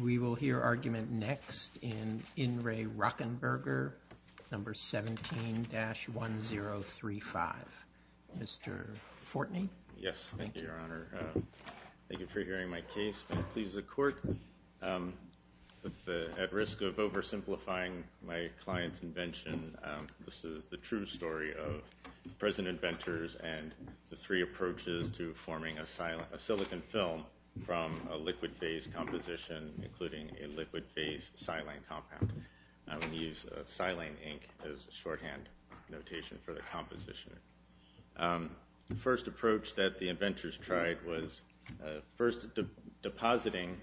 We will hear argument next in In Re Rockenberger No. 17-1035. Mr. Fortney? Yes, thank you, Your Honor. Thank you for hearing my case. It pleases the court. At risk of oversimplifying my client's invention, this is the true story of present inventors and the three approaches to forming a silicon film from a liquid phase composition, including a liquid phase silane compound. I will use silane ink as a shorthand notation for the composition. The first approach that the inventors tried was first depositing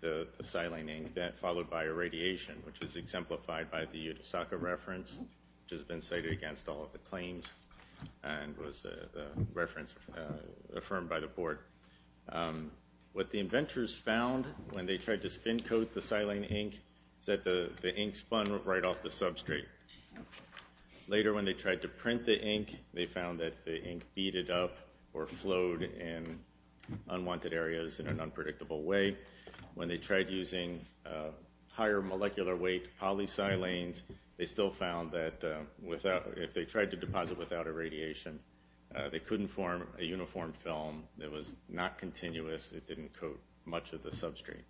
the silane ink, followed by irradiation, which is exemplified by the Yudasaka reference, which has been cited against all of the claims and was a reference affirmed by the board. What the inventors found when they tried to spin coat the silane ink is that the ink spun right off the substrate. Later when they tried to print the ink, they found that the ink beaded up or flowed in unwanted areas in an unpredictable way. When they tried using higher molecular weight polysilanes, they still found that if they tried to deposit without irradiation, they was not continuous, it didn't coat much of the substrate.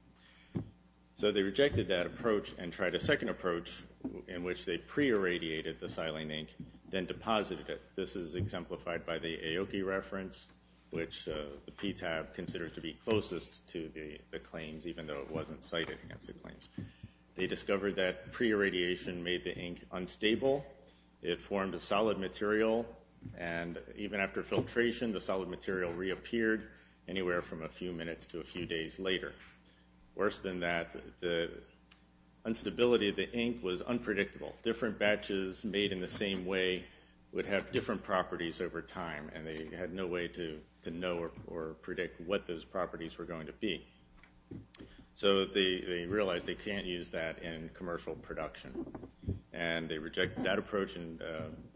So they rejected that approach and tried a second approach in which they pre-irradiated the silane ink, then deposited it. This is exemplified by the Aoki reference, which the PTAB considers to be closest to the claims, even though it wasn't cited against the claims. They discovered that pre-irradiation made the ink unstable, it formed a solid material, and even after filtration, the solid material reappeared anywhere from a few minutes to a few days later. Worse than that, the instability of the ink was unpredictable. Different batches made in the same way would have different properties over time, and they had no way to know or predict what those properties were going to be. So they realized they can't use that in commercial production, and they rejected that approach and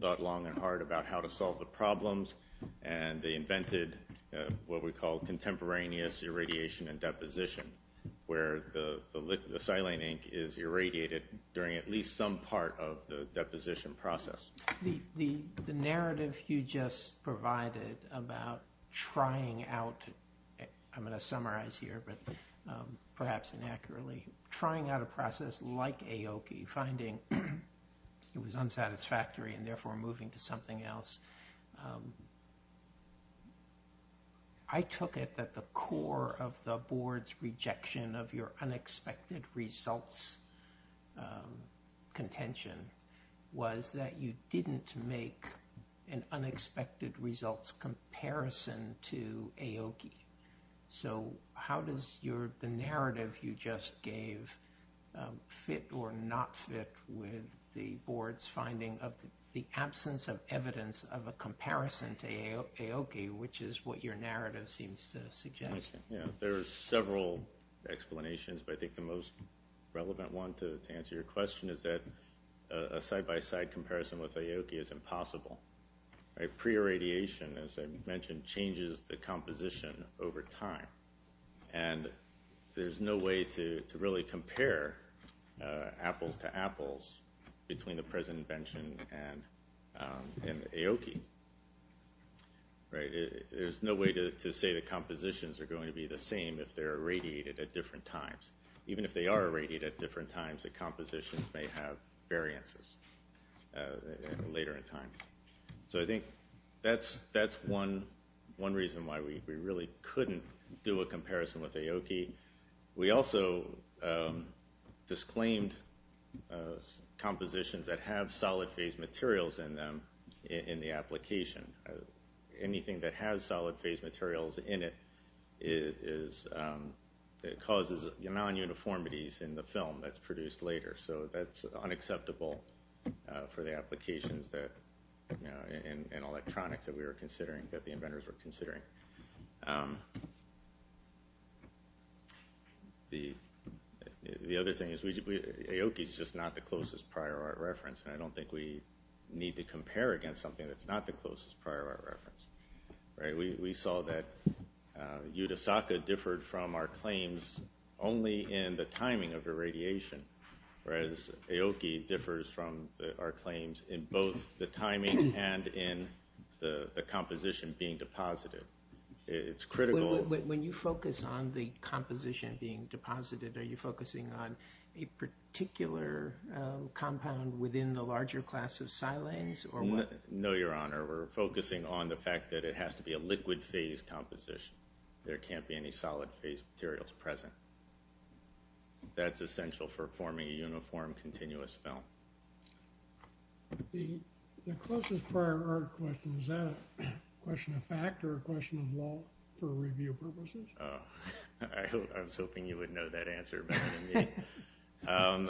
thought long and hard about how to solve the problems, and they invented what we call contemporaneous irradiation and deposition, where the silane ink is irradiated during at least some part of the deposition process. The narrative you just provided about trying out, I'm going to summarize here, but perhaps inaccurately, trying out a process like Aoki, finding it was unsatisfactory and therefore moving to something else. I took it that the core of the board's rejection of your unexpected results contention was that you didn't make an unexpected results comparison to Aoki. So how does the narrative you just suggest the absence of evidence of a comparison to Aoki, which is what your narrative seems to suggest? There are several explanations, but I think the most relevant one to answer your question is that a side-by-side comparison with Aoki is impossible. Pre-irradiation, as I mentioned, changes the composition over time, and there's no way to really compare apples to apples between the present invention and Aoki. There's no way to say the compositions are going to be the same if they're irradiated at different times. Even if they are irradiated at different times, the compositions may have variances later in time. So I think that's one reason why we really couldn't do a comparison with Aoki. We also disclaimed compositions that have solid phase materials in them in the application. Anything that has solid phase materials in it causes non-uniformities in the film that's produced later. So that's unacceptable for the applications and electronics that we were considering, that the inventors were considering. The other thing is Aoki is just not the closest prior art reference, and I don't think we need to compare against something that's not the closest prior art reference. We saw that Yudasaka differed from our claims only in the timing of irradiation, whereas Aoki differs from our claims in both the timing and in the composition being deposited. It's critical... When you focus on the composition being deposited, are you focusing on a particular compound within the larger class of silanes? No, Your Honor. We're focusing on the fact that it has to be a liquid phase composition. There can't be any solid phase materials present. That's essential for forming a uniform continuous film. The closest prior art question, is that a question of fact or a question of law for review purposes? I was hoping you would know that answer better than me.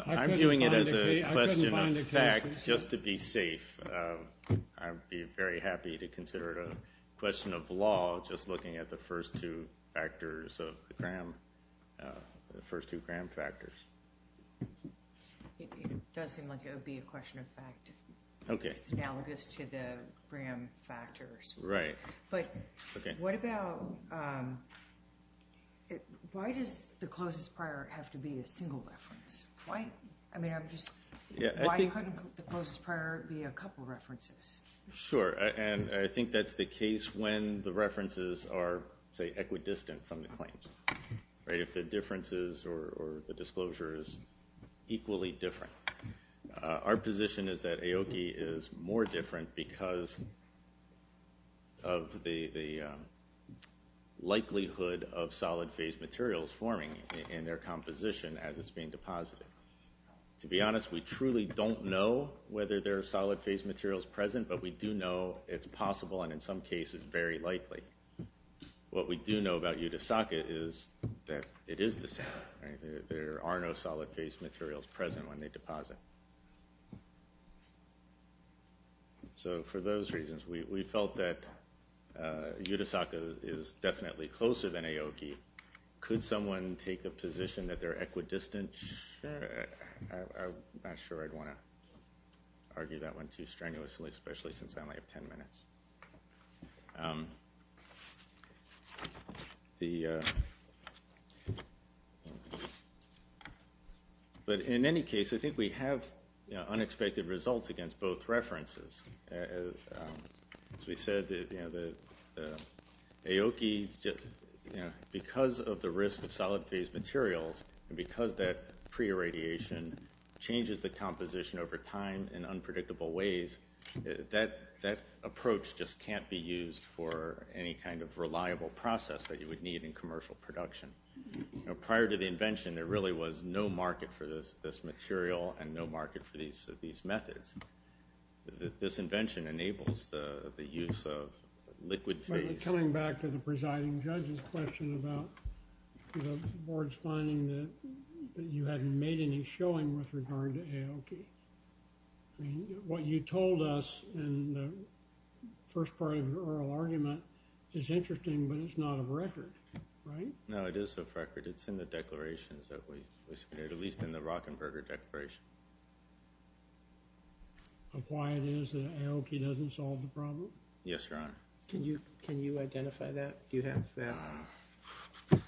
I'm viewing it as a question of fact, just to be safe. I'd be very happy to consider it a question of law, just looking at the first two Graham factors. It does seem like it would be a question of fact, analogous to the Graham factors. Right. But what about... Why does the closest prior art have to be a single reference? Why couldn't the closest prior art be a couple of references? Sure, and I think that's the case when the references are, say, equidistant from the claims. If the difference is, or the disclosure is, equally different. Our position is that Aoki is more different because of the likelihood of solid phase materials forming in their composition as it's being deposited. To be honest, we truly don't know whether there are solid phase materials present, but we do know it's possible, and in some cases, very likely. What we do know about Yudasaka is that it is the same. There are no solid phase materials present when they deposit. So for those reasons, we felt that Yudasaka is definitely closer than Aoki. Could someone take the position that they're equidistant? I'm not sure I'd want to argue that one too strenuously, especially since I only have 10 minutes. But in any case, I think we have unexpected results against both references. As we said, Aoki, because of the risk of solid phase materials, and because that pre-irradiation changes the composition over time in unpredictable ways, that approach just can't be used for any kind of reliable process that you would need in commercial production. Prior to the invention, there really was no market for this material and no market for these methods. This invention enables the use of liquid phase. Coming back to the presiding judge's question about the board's finding that you hadn't made any showing with regard to Aoki. What you told us in the first part of your oral argument is interesting, but it's not of record, right? No, it is of record. It's in the declarations that we submitted, at least in the Rockenberger Declaration. Of why it is that Aoki doesn't solve the problem? Yes, Your Honor. Can you identify that? Do you have that?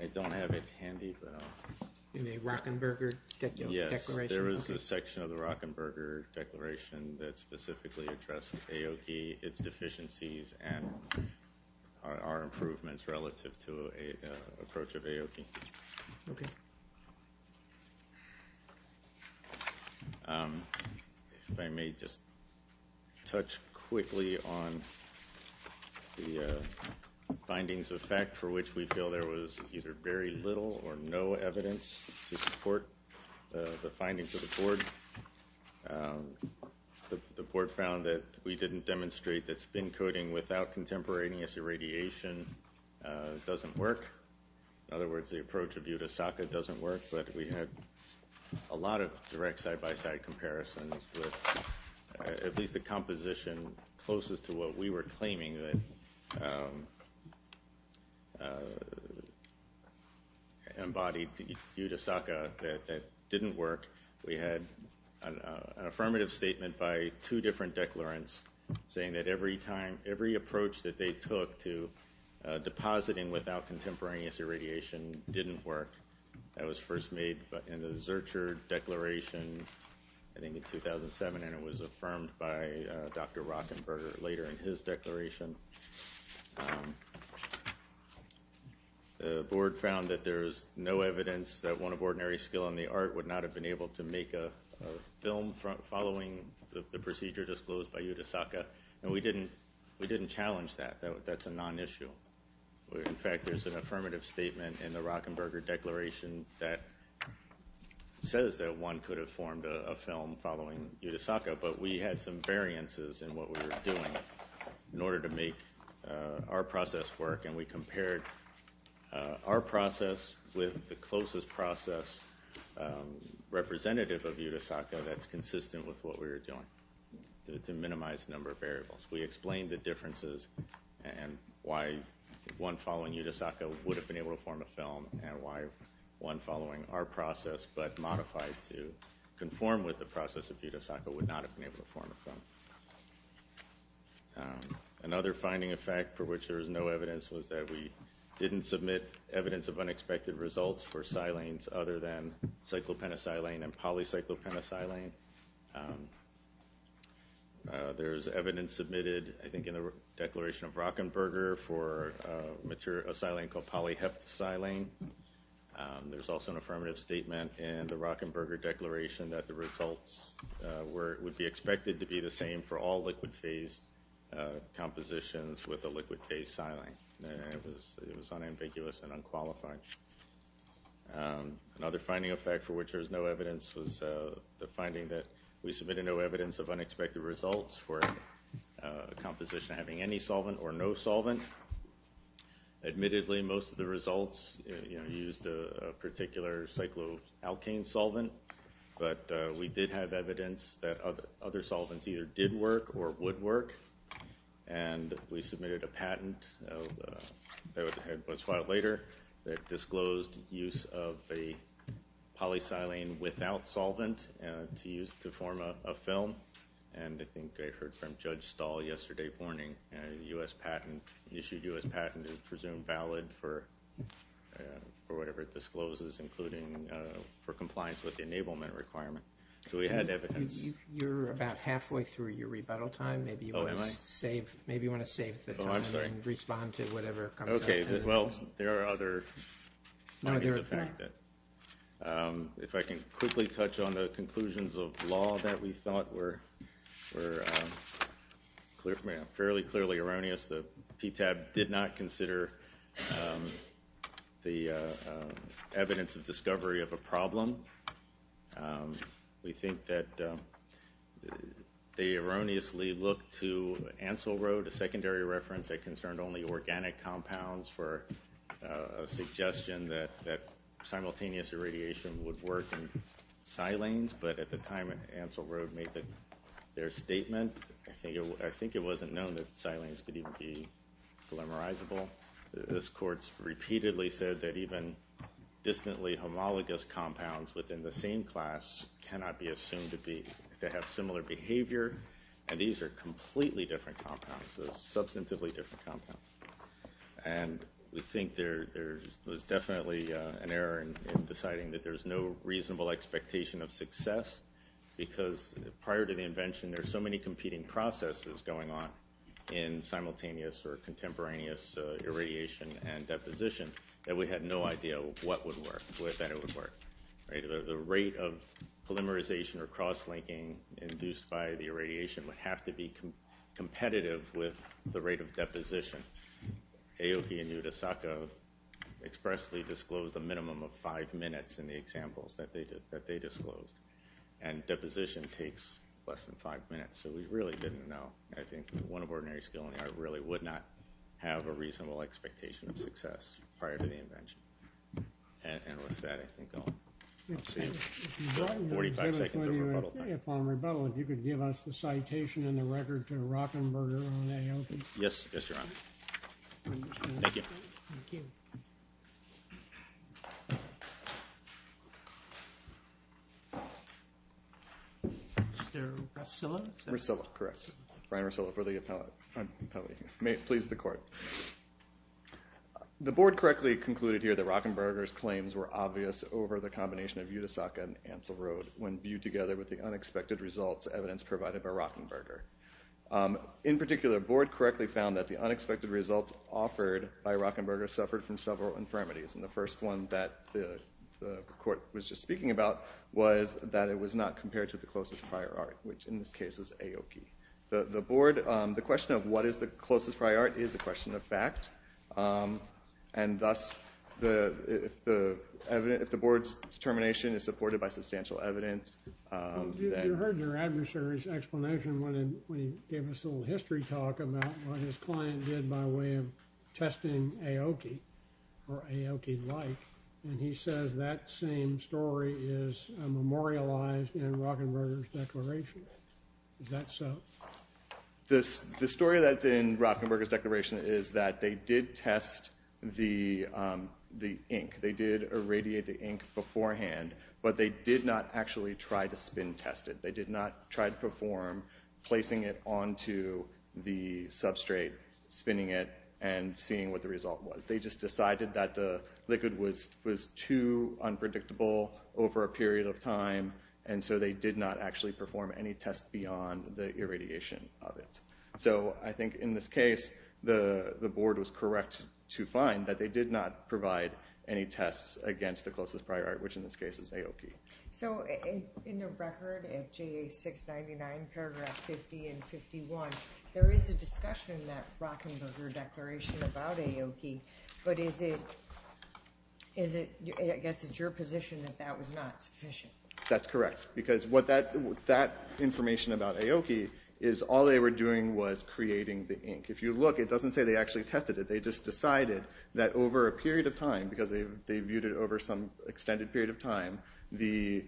I don't have it handy, but I'll… In the Rockenberger Declaration? Yes, there is a section of the Rockenberger Declaration that specifically addressed Aoki, its deficiencies, and our improvements relative to the approach of Aoki. Okay. If I may just touch quickly on the findings of fact for which we feel there was either very little or no evidence to support the findings of the board. The board found that we didn't demonstrate that spin coating without contemporaneous irradiation doesn't work. In other words, the approach of Yudasaka doesn't work. But we had a lot of direct side-by-side comparisons with at least the composition closest to what we were claiming that embodied Yudasaka that didn't work. We had an affirmative statement by two different declarants saying that every approach that they took to depositing without contemporaneous irradiation didn't work. That was first made in the Zurcher Declaration, I think in 2007, and it was affirmed by Dr. Rockenberger later in his declaration. The board found that there is no evidence that one of ordinary skill in the art would not have been able to make a film following the procedure disclosed by Yudasaka. And we didn't challenge that. That's a non-issue. In fact, there's an affirmative statement in the Rockenberger Declaration that says that one could have formed a film following Yudasaka. But we had some variances in what we were doing in order to make our process work. And we compared our process with the closest process representative of Yudasaka that's consistent with what we were doing to minimize the number of variables. We explained the differences and why one following Yudasaka would have been able to form a film and why one following our process but modified to conform with the process of Yudasaka would not have been able to form a film. Another finding of fact for which there is no evidence was that we didn't submit evidence of unexpected results for silanes other than cyclopentasilane and polycyclopentasilane. There's evidence submitted I think in the Declaration of Rockenberger for a silane called polyheptasilane. There's also an affirmative statement in the Rockenberger Declaration that the results would be expected to be the same for all liquid phase compositions with a liquid phase silane. It was unambiguous and unqualified. Another finding of fact for which there is no evidence was the finding that we submitted no evidence of unexpected results for a composition having any solvent or no solvent. Admittedly, most of the results used a particular cycloalkane solvent, but we did have evidence that other solvents either did work or would work. And we submitted a patent that was filed later that disclosed use of a polysilane without solvent to form a film. And I think I heard from Judge Stahl yesterday morning, a U.S. patent, issued U.S. patent is presumed valid for whatever it discloses, including for compliance with the enablement requirement. So we had evidence. You're about halfway through your rebuttal time. Maybe you want to save the time and respond to whatever comes up. Okay. Well, there are other findings of fact. If I can quickly touch on the conclusions of law that we thought were fairly clearly erroneous. The PTAB did not consider the evidence of discovery of a problem. We think that they erroneously looked to Ansell Road, a secondary reference that concerned only organic compounds, for a suggestion that simultaneous irradiation would work in silanes. But at the time Ansell Road made their statement, I think it wasn't known that silanes could even be polymerizable. This court's repeatedly said that even distantly homologous compounds within the same class cannot be assumed to have similar behavior. And these are completely different compounds. Substantively different compounds. And we think there's definitely an error in deciding that there's no reasonable expectation of success. Because prior to the invention, there are so many competing processes going on in simultaneous or contemporaneous irradiation and deposition that we had no idea what would work, what better would work. The rate of polymerization or cross-linking induced by the irradiation would have to be competitive with the rate of deposition. Aoki and Yudasaka expressly disclosed a minimum of five minutes in the examples that they disclosed. And deposition takes less than five minutes. So we really didn't know. I think one of ordinary skill in the art really would not have a reasonable expectation of success prior to the invention. And with that, I think I'll see you. 45 seconds of rebuttal time. Upon rebuttal, if you could give us the citation and the record to Rockenberger on Aoki. Yes. Yes, Your Honor. Thank you. Thank you. Mr. Russillo? Russillo, correct. Brian Russillo for the appellate. Please the court. The board correctly concluded here that Rockenberger's claims were obvious over the combination of Yudasaka and Ansel Road when viewed together with the unexpected results evidence provided by Rockenberger. In particular, the board correctly found that the unexpected results offered by Rockenberger suffered from several infirmities. And the first one that the court was just speaking about was that it was not compared to the closest prior art, which in this case was Aoki. The board, the question of what is the closest prior art is a question of fact. And thus, if the board's determination is supported by substantial evidence. You heard your adversary's explanation when he gave us a little history talk about what his client did by way of testing Aoki, or Aoki-like. And he says that same story is memorialized in Rockenberger's declaration. Is that so? The story that's in Rockenberger's declaration is that they did test the ink. They did irradiate the ink beforehand, but they did not actually try to spin test it. They did not try to perform placing it onto the substrate, spinning it, and seeing what the result was. They just decided that the liquid was too unpredictable over a period of time, and so they did not actually perform any tests beyond the irradiation of it. So I think in this case, the board was correct to find that they did not provide any tests against the closest prior art, which in this case is Aoki. So in the record of JA 699 paragraph 50 and 51, there is a discussion in that Rockenberger declaration about Aoki, but I guess it's your position that that was not sufficient. That's correct, because that information about Aoki is all they were doing was creating the ink. If you look, it doesn't say they actually tested it. They just decided that over a period of time, because they viewed it over some extended period of time, the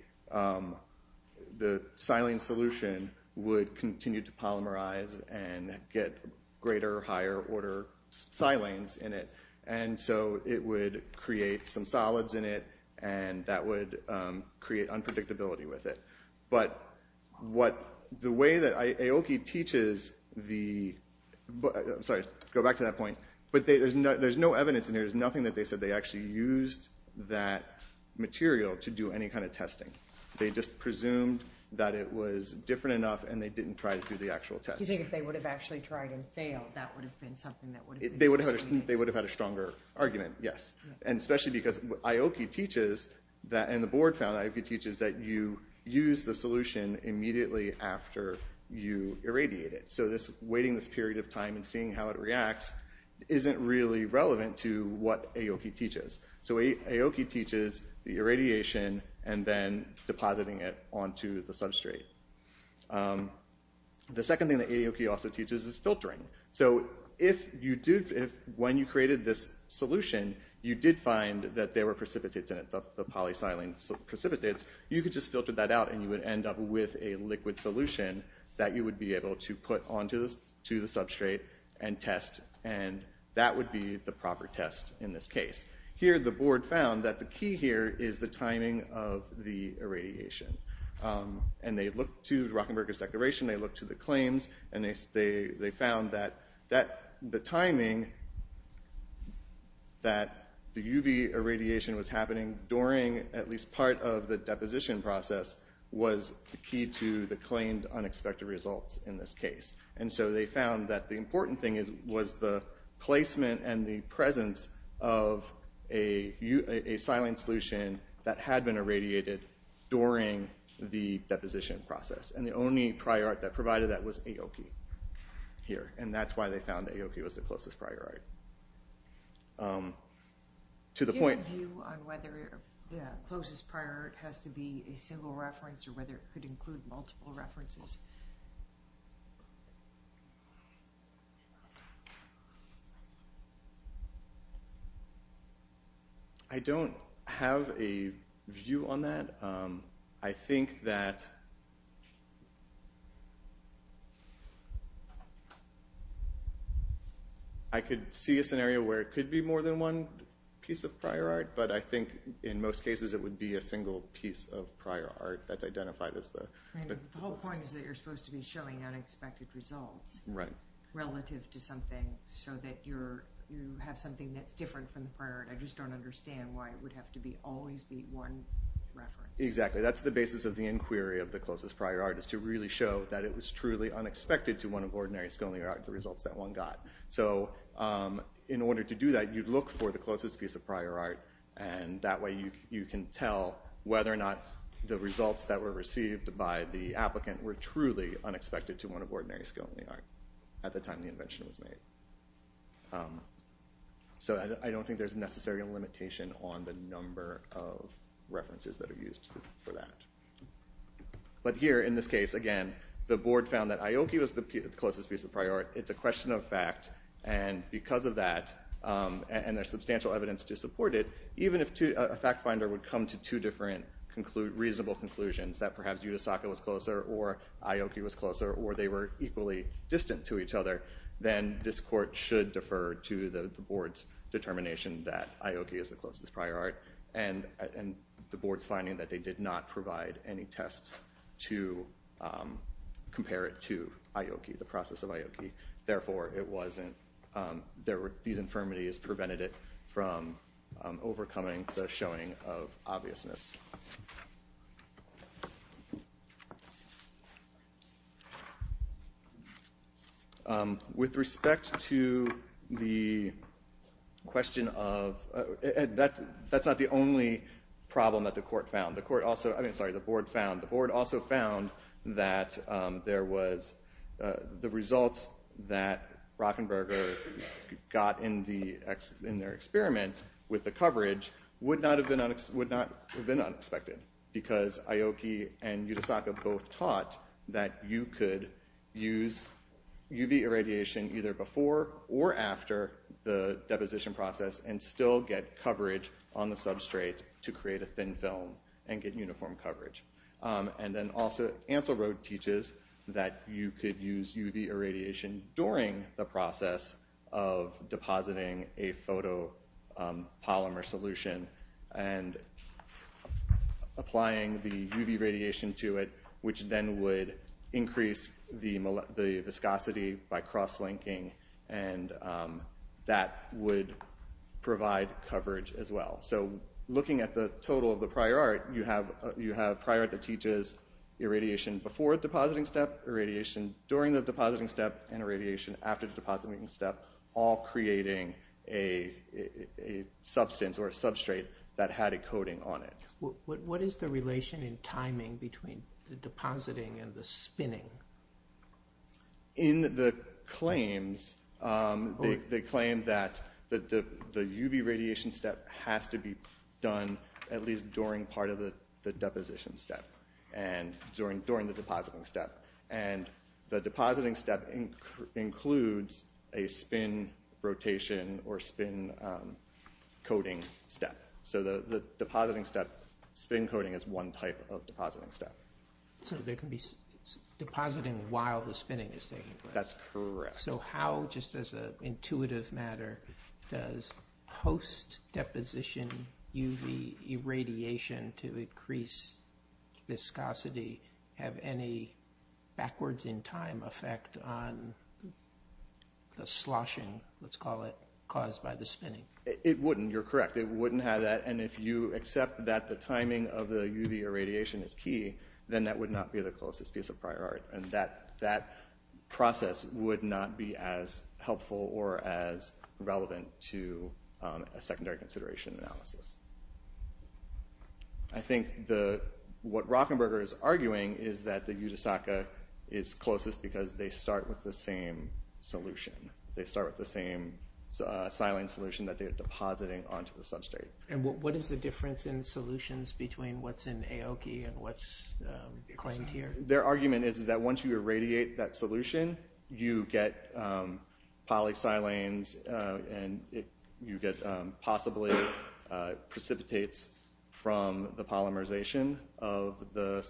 silane solution would continue to polymerize and get greater, higher order silanes in it. And so it would create some solids in it, and that would create unpredictability with it. But the way that Aoki teaches the – sorry, go back to that point. But there's no evidence in here. There's nothing that they said they actually used that material to do any kind of testing. They just presumed that it was different enough, and they didn't try to do the actual test. Do you think if they would have actually tried and failed, that would have been something that would have been – They would have had a stronger argument, yes. And especially because Aoki teaches – and the board found that Aoki teaches that you use the solution immediately after you irradiate it. So waiting this period of time and seeing how it reacts isn't really relevant to what Aoki teaches. So Aoki teaches the irradiation and then depositing it onto the substrate. The second thing that Aoki also teaches is filtering. So if you do – when you created this solution, you did find that there were precipitates in it, the polysilane precipitates. You could just filter that out, and you would end up with a liquid solution that you would be able to put onto the substrate and test. And that would be the proper test in this case. Here the board found that the key here is the timing of the irradiation. And they looked to Rockenberger's declaration. They looked to the claims, and they found that the timing that the UV irradiation was happening during at least part of the deposition process was the key to the claimed unexpected results in this case. And so they found that the important thing was the placement and the presence of a silane solution that had been irradiated during the deposition process. And the only prior art that provided that was Aoki here. And that's why they found that Aoki was the closest prior art. Do you have a view on whether the closest prior art has to be a single reference or whether it could include multiple references? I don't have a view on that. I think that I could see a scenario where it could be more than one piece of prior art. But I think in most cases it would be a single piece of prior art that's identified as the closest. The whole point is that you're supposed to be showing unexpected results relative to something, so that you have something that's different from the prior art. I just don't understand why it would have to always be one reference. Exactly. That's the basis of the inquiry of the closest prior art, is to really show that it was truly unexpected to one of ordinary sculling art the results that one got. So in order to do that, you'd look for the closest piece of prior art. And that way you can tell whether or not the results that were received by the applicant were truly unexpected to one of ordinary sculling art at the time the invention was made. So I don't think there's necessarily a limitation on the number of references that are used for that. But here in this case, again, the board found that Aoki was the closest piece of prior art. It's a question of fact. And because of that, and there's substantial evidence to support it, even if a fact finder would come to two different reasonable conclusions, that perhaps Yudasaka was closer, or Aoki was closer, or they were equally distant to each other, then this court should defer to the board's determination that Aoki is the closest prior art. And the board's finding that they did not provide any tests to compare it to Aoki, the process of Aoki. Therefore, these infirmities prevented it from overcoming the showing of obviousness. With respect to the question of, that's not the only problem that the board found. The board also found that the results that Rockenberger got in their experiment with the coverage would not have been unexpected. Because Aoki and Yudasaka both taught that you could use UV irradiation either before or after the deposition process and still get coverage on the substrate to create a thin film and get uniform coverage. And then also, Ansell Road teaches that you could use UV irradiation during the process of depositing a photopolymer solution and applying the UV radiation to it, which then would increase the viscosity by cross-linking. And that would provide coverage as well. So looking at the total of the prior art, you have prior art that teaches irradiation before the depositing step, irradiation during the depositing step, and irradiation after the depositing step, all creating a substance or a substrate that had a coating on it. What is the relation in timing between the depositing and the spinning? In the claims, they claim that the UV radiation step has to be done at least during part of the deposition step, during the depositing step. And the depositing step includes a spin rotation or spin coating step. So the depositing step, spin coating is one type of depositing step. So there can be depositing while the spinning is taking place. That's correct. So how, just as an intuitive matter, does post-deposition UV irradiation to increase viscosity have any backwards-in-time effect on the sloshing, let's call it, caused by the spinning? It wouldn't. You're correct. It wouldn't have that. And if you accept that the timing of the UV irradiation is key, then that would not be the closest piece of prior art. And that process would not be as helpful or as relevant to a secondary consideration analysis. I think what Rockenberger is arguing is that the Yudhisthaka is closest because they start with the same solution. They start with the same silane solution that they're depositing onto the substrate. And what is the difference in solutions between what's in Aoki and what's claimed here? Their argument is that once you irradiate that solution, you get polysilanes, and you get possibly precipitates from the polymerization of the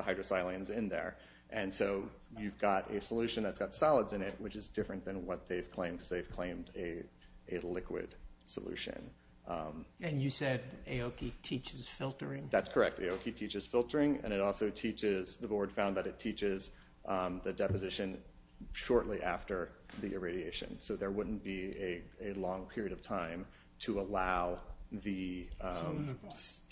hydrosilanes in there. And so you've got a solution that's got solids in it, which is different than what they've claimed because they've claimed a liquid solution. And you said Aoki teaches filtering? That's correct. Aoki teaches filtering, and it also teaches— the board found that it teaches the deposition shortly after the irradiation. So there wouldn't be a long period of time to allow the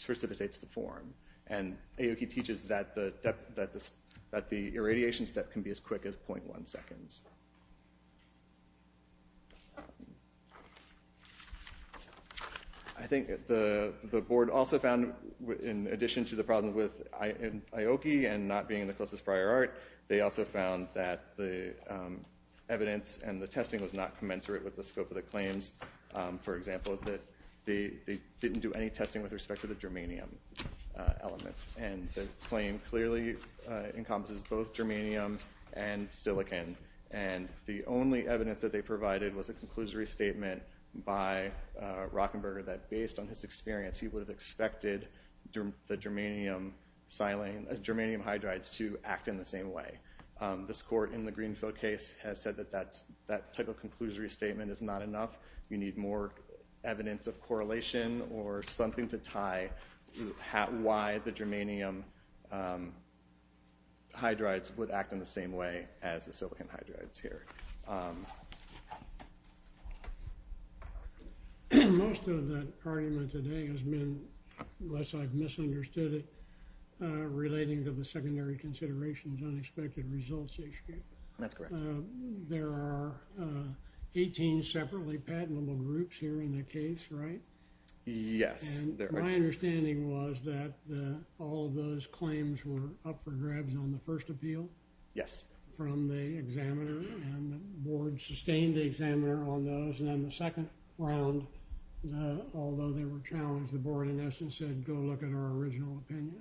precipitates to form. And Aoki teaches that the irradiation step can be as quick as 0.1 seconds. I think the board also found, in addition to the problem with Aoki and not being in the closest prior art, they also found that the evidence and the testing was not commensurate with the scope of the claims. For example, that they didn't do any testing with respect to the germanium elements. And the claim clearly encompasses both germanium and silicon. And the only evidence that they provided was a conclusory statement by Rockenberger that based on his experience, he would have expected the germanium hydrides to act in the same way. This court in the Greenfield case has said that that type of conclusory statement is not enough. You need more evidence of correlation or something to tie why the germanium hydrides would act in the same way as the silicon hydrides here. Most of that argument today has been, unless I've misunderstood it, relating to the secondary considerations unexpected results issue. That's correct. There are 18 separately patentable groups here in the case, right? Yes. My understanding was that all of those claims were up for grabs on the first appeal. Yes. From the examiner, and the board sustained the examiner on those. And on the second round, although they were challenged, the board in essence said, go look at our original opinion.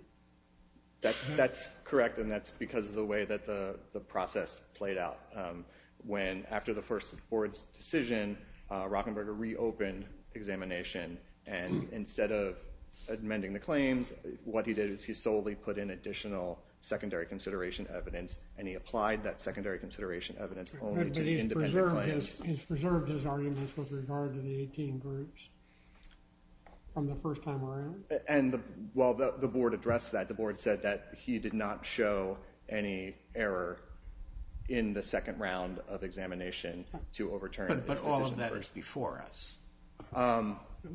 That's correct. And that's because of the way that the process played out. When after the first board's decision, Rockenberger reopened examination. And instead of amending the claims, what he did is he solely put in additional secondary consideration evidence. And he applied that secondary consideration evidence only to independent claims. He has preserved his arguments with regard to the 18 groups from the first time around. And while the board addressed that, the board said that he did not show any error in the second round of examination to overturn his decision. But all of that is before us.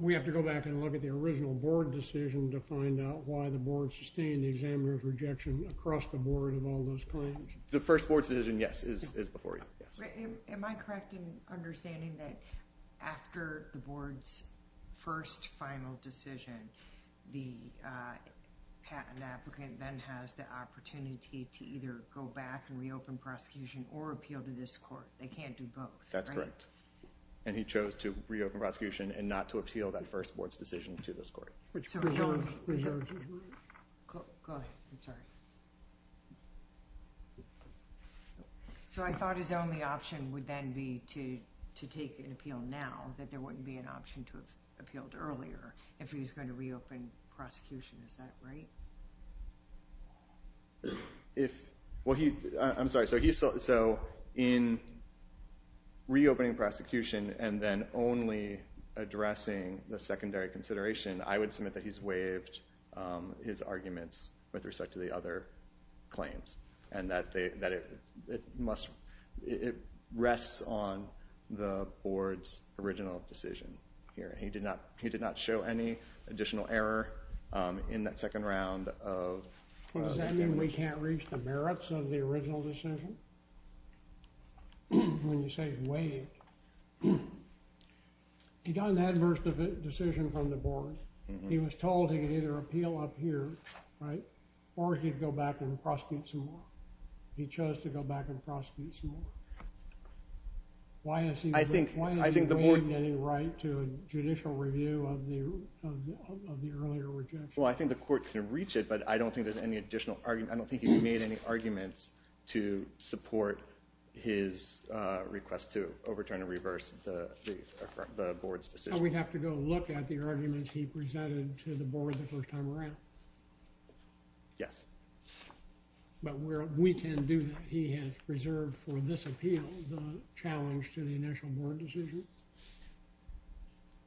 We have to go back and look at the original board decision to find out why the board sustained the examiner's rejection across the board of all those claims. The first board's decision, yes, is before you. Am I correct in understanding that after the board's first final decision, the patent applicant then has the opportunity to either go back and reopen prosecution or appeal to this court? They can't do both, right? That's correct. And he chose to reopen prosecution and not to appeal that first board's decision to this court. Go ahead. I'm sorry. So I thought his only option would then be to take an appeal now, that there wouldn't be an option to have appealed earlier if he was going to reopen prosecution. Is that right? Well, I'm sorry. So in reopening prosecution and then only addressing the secondary consideration, I would submit that he's And that it rests on the board's original decision here. He did not show any additional error in that second round of examination. Does that mean we can't reach the merits of the original decision? When you say waived. He got an adverse decision from the board. He was told he could either appeal up here, right, or he'd go back and prosecute some more. He chose to go back and prosecute some more. Why is he waiving any right to a judicial review of the earlier rejection? Well, I think the court can reach it, but I don't think there's any additional argument. I don't think he's made any arguments to support his request to overturn or reverse the board's decision. So we'd have to go look at the arguments he presented to the board the first time around? Yes. But we can do that. He has preserved for this appeal the challenge to the initial board decision?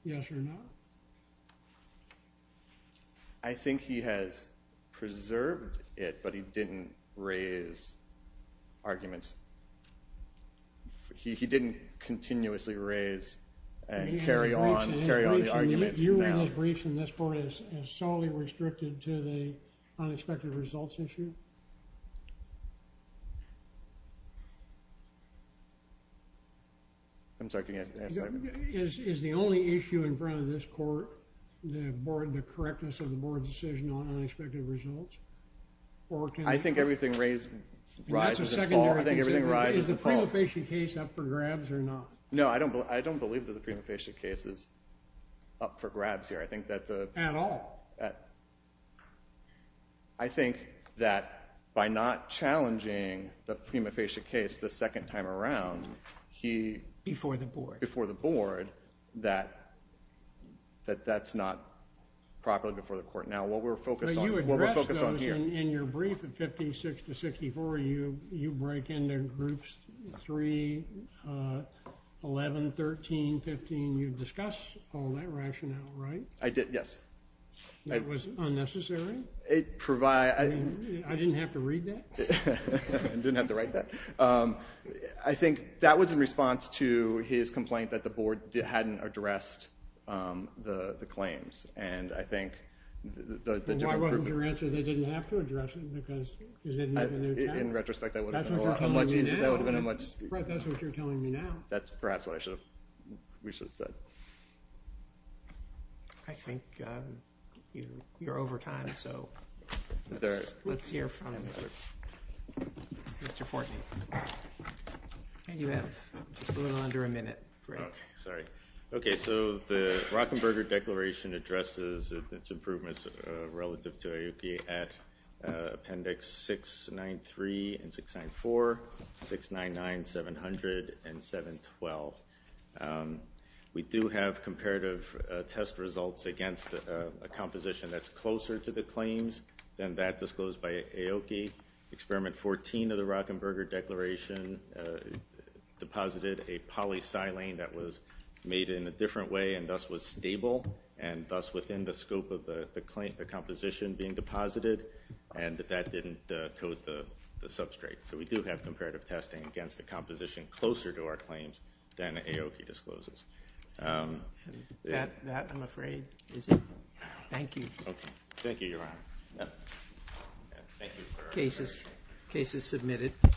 Yes or no? I think he has preserved it, but he didn't raise arguments. He didn't continuously raise and carry on the arguments. Your briefs in this court is solely restricted to the unexpected results issue? I'm sorry, can you answer that? Is the only issue in front of this court the correctness of the board's decision on unexpected results? I think everything rises to fall. I think everything rises to fall. Is the prima facie case up for grabs or not? No, I don't believe that the prima facie case is up for grabs here. I think that the- At all? I think that by not challenging the prima facie case the second time around, he- Before the board. Before the board, that that's not properly before the court. Now, what we're focused on here- You addressed those in your brief in 56 to 64. You break into groups 3, 11, 13, 15. And you discuss all that rationale, right? I did, yes. That was unnecessary? I didn't have to read that? I didn't have to write that. I think that was in response to his complaint that the board hadn't addressed the claims. And I think the different group- Why wasn't your answer they didn't have to address it? Because they didn't have enough time? In retrospect, that would have been a much easier- That's what you're telling me now. Brett, that's what you're telling me now. That's perhaps what we should have said. I think you're over time, so let's hear from Mr. Fortney. You have a little under a minute, Brett. Okay, sorry. Okay, so the Rockenberger Declaration addresses its improvements relative to IOP at Appendix 693 and 694, 699, 700, and 712. We do have comparative test results against a composition that's closer to the claims than that disclosed by AOKI. Experiment 14 of the Rockenberger Declaration deposited a polysilane that was made in a different way and thus was stable, and thus within the scope of the composition being deposited, and that didn't coat the substrate. So we do have comparative testing against a composition closer to our claims than AOKI discloses. That, I'm afraid, is it? Thank you. Thank you, Your Honor. Case is submitted.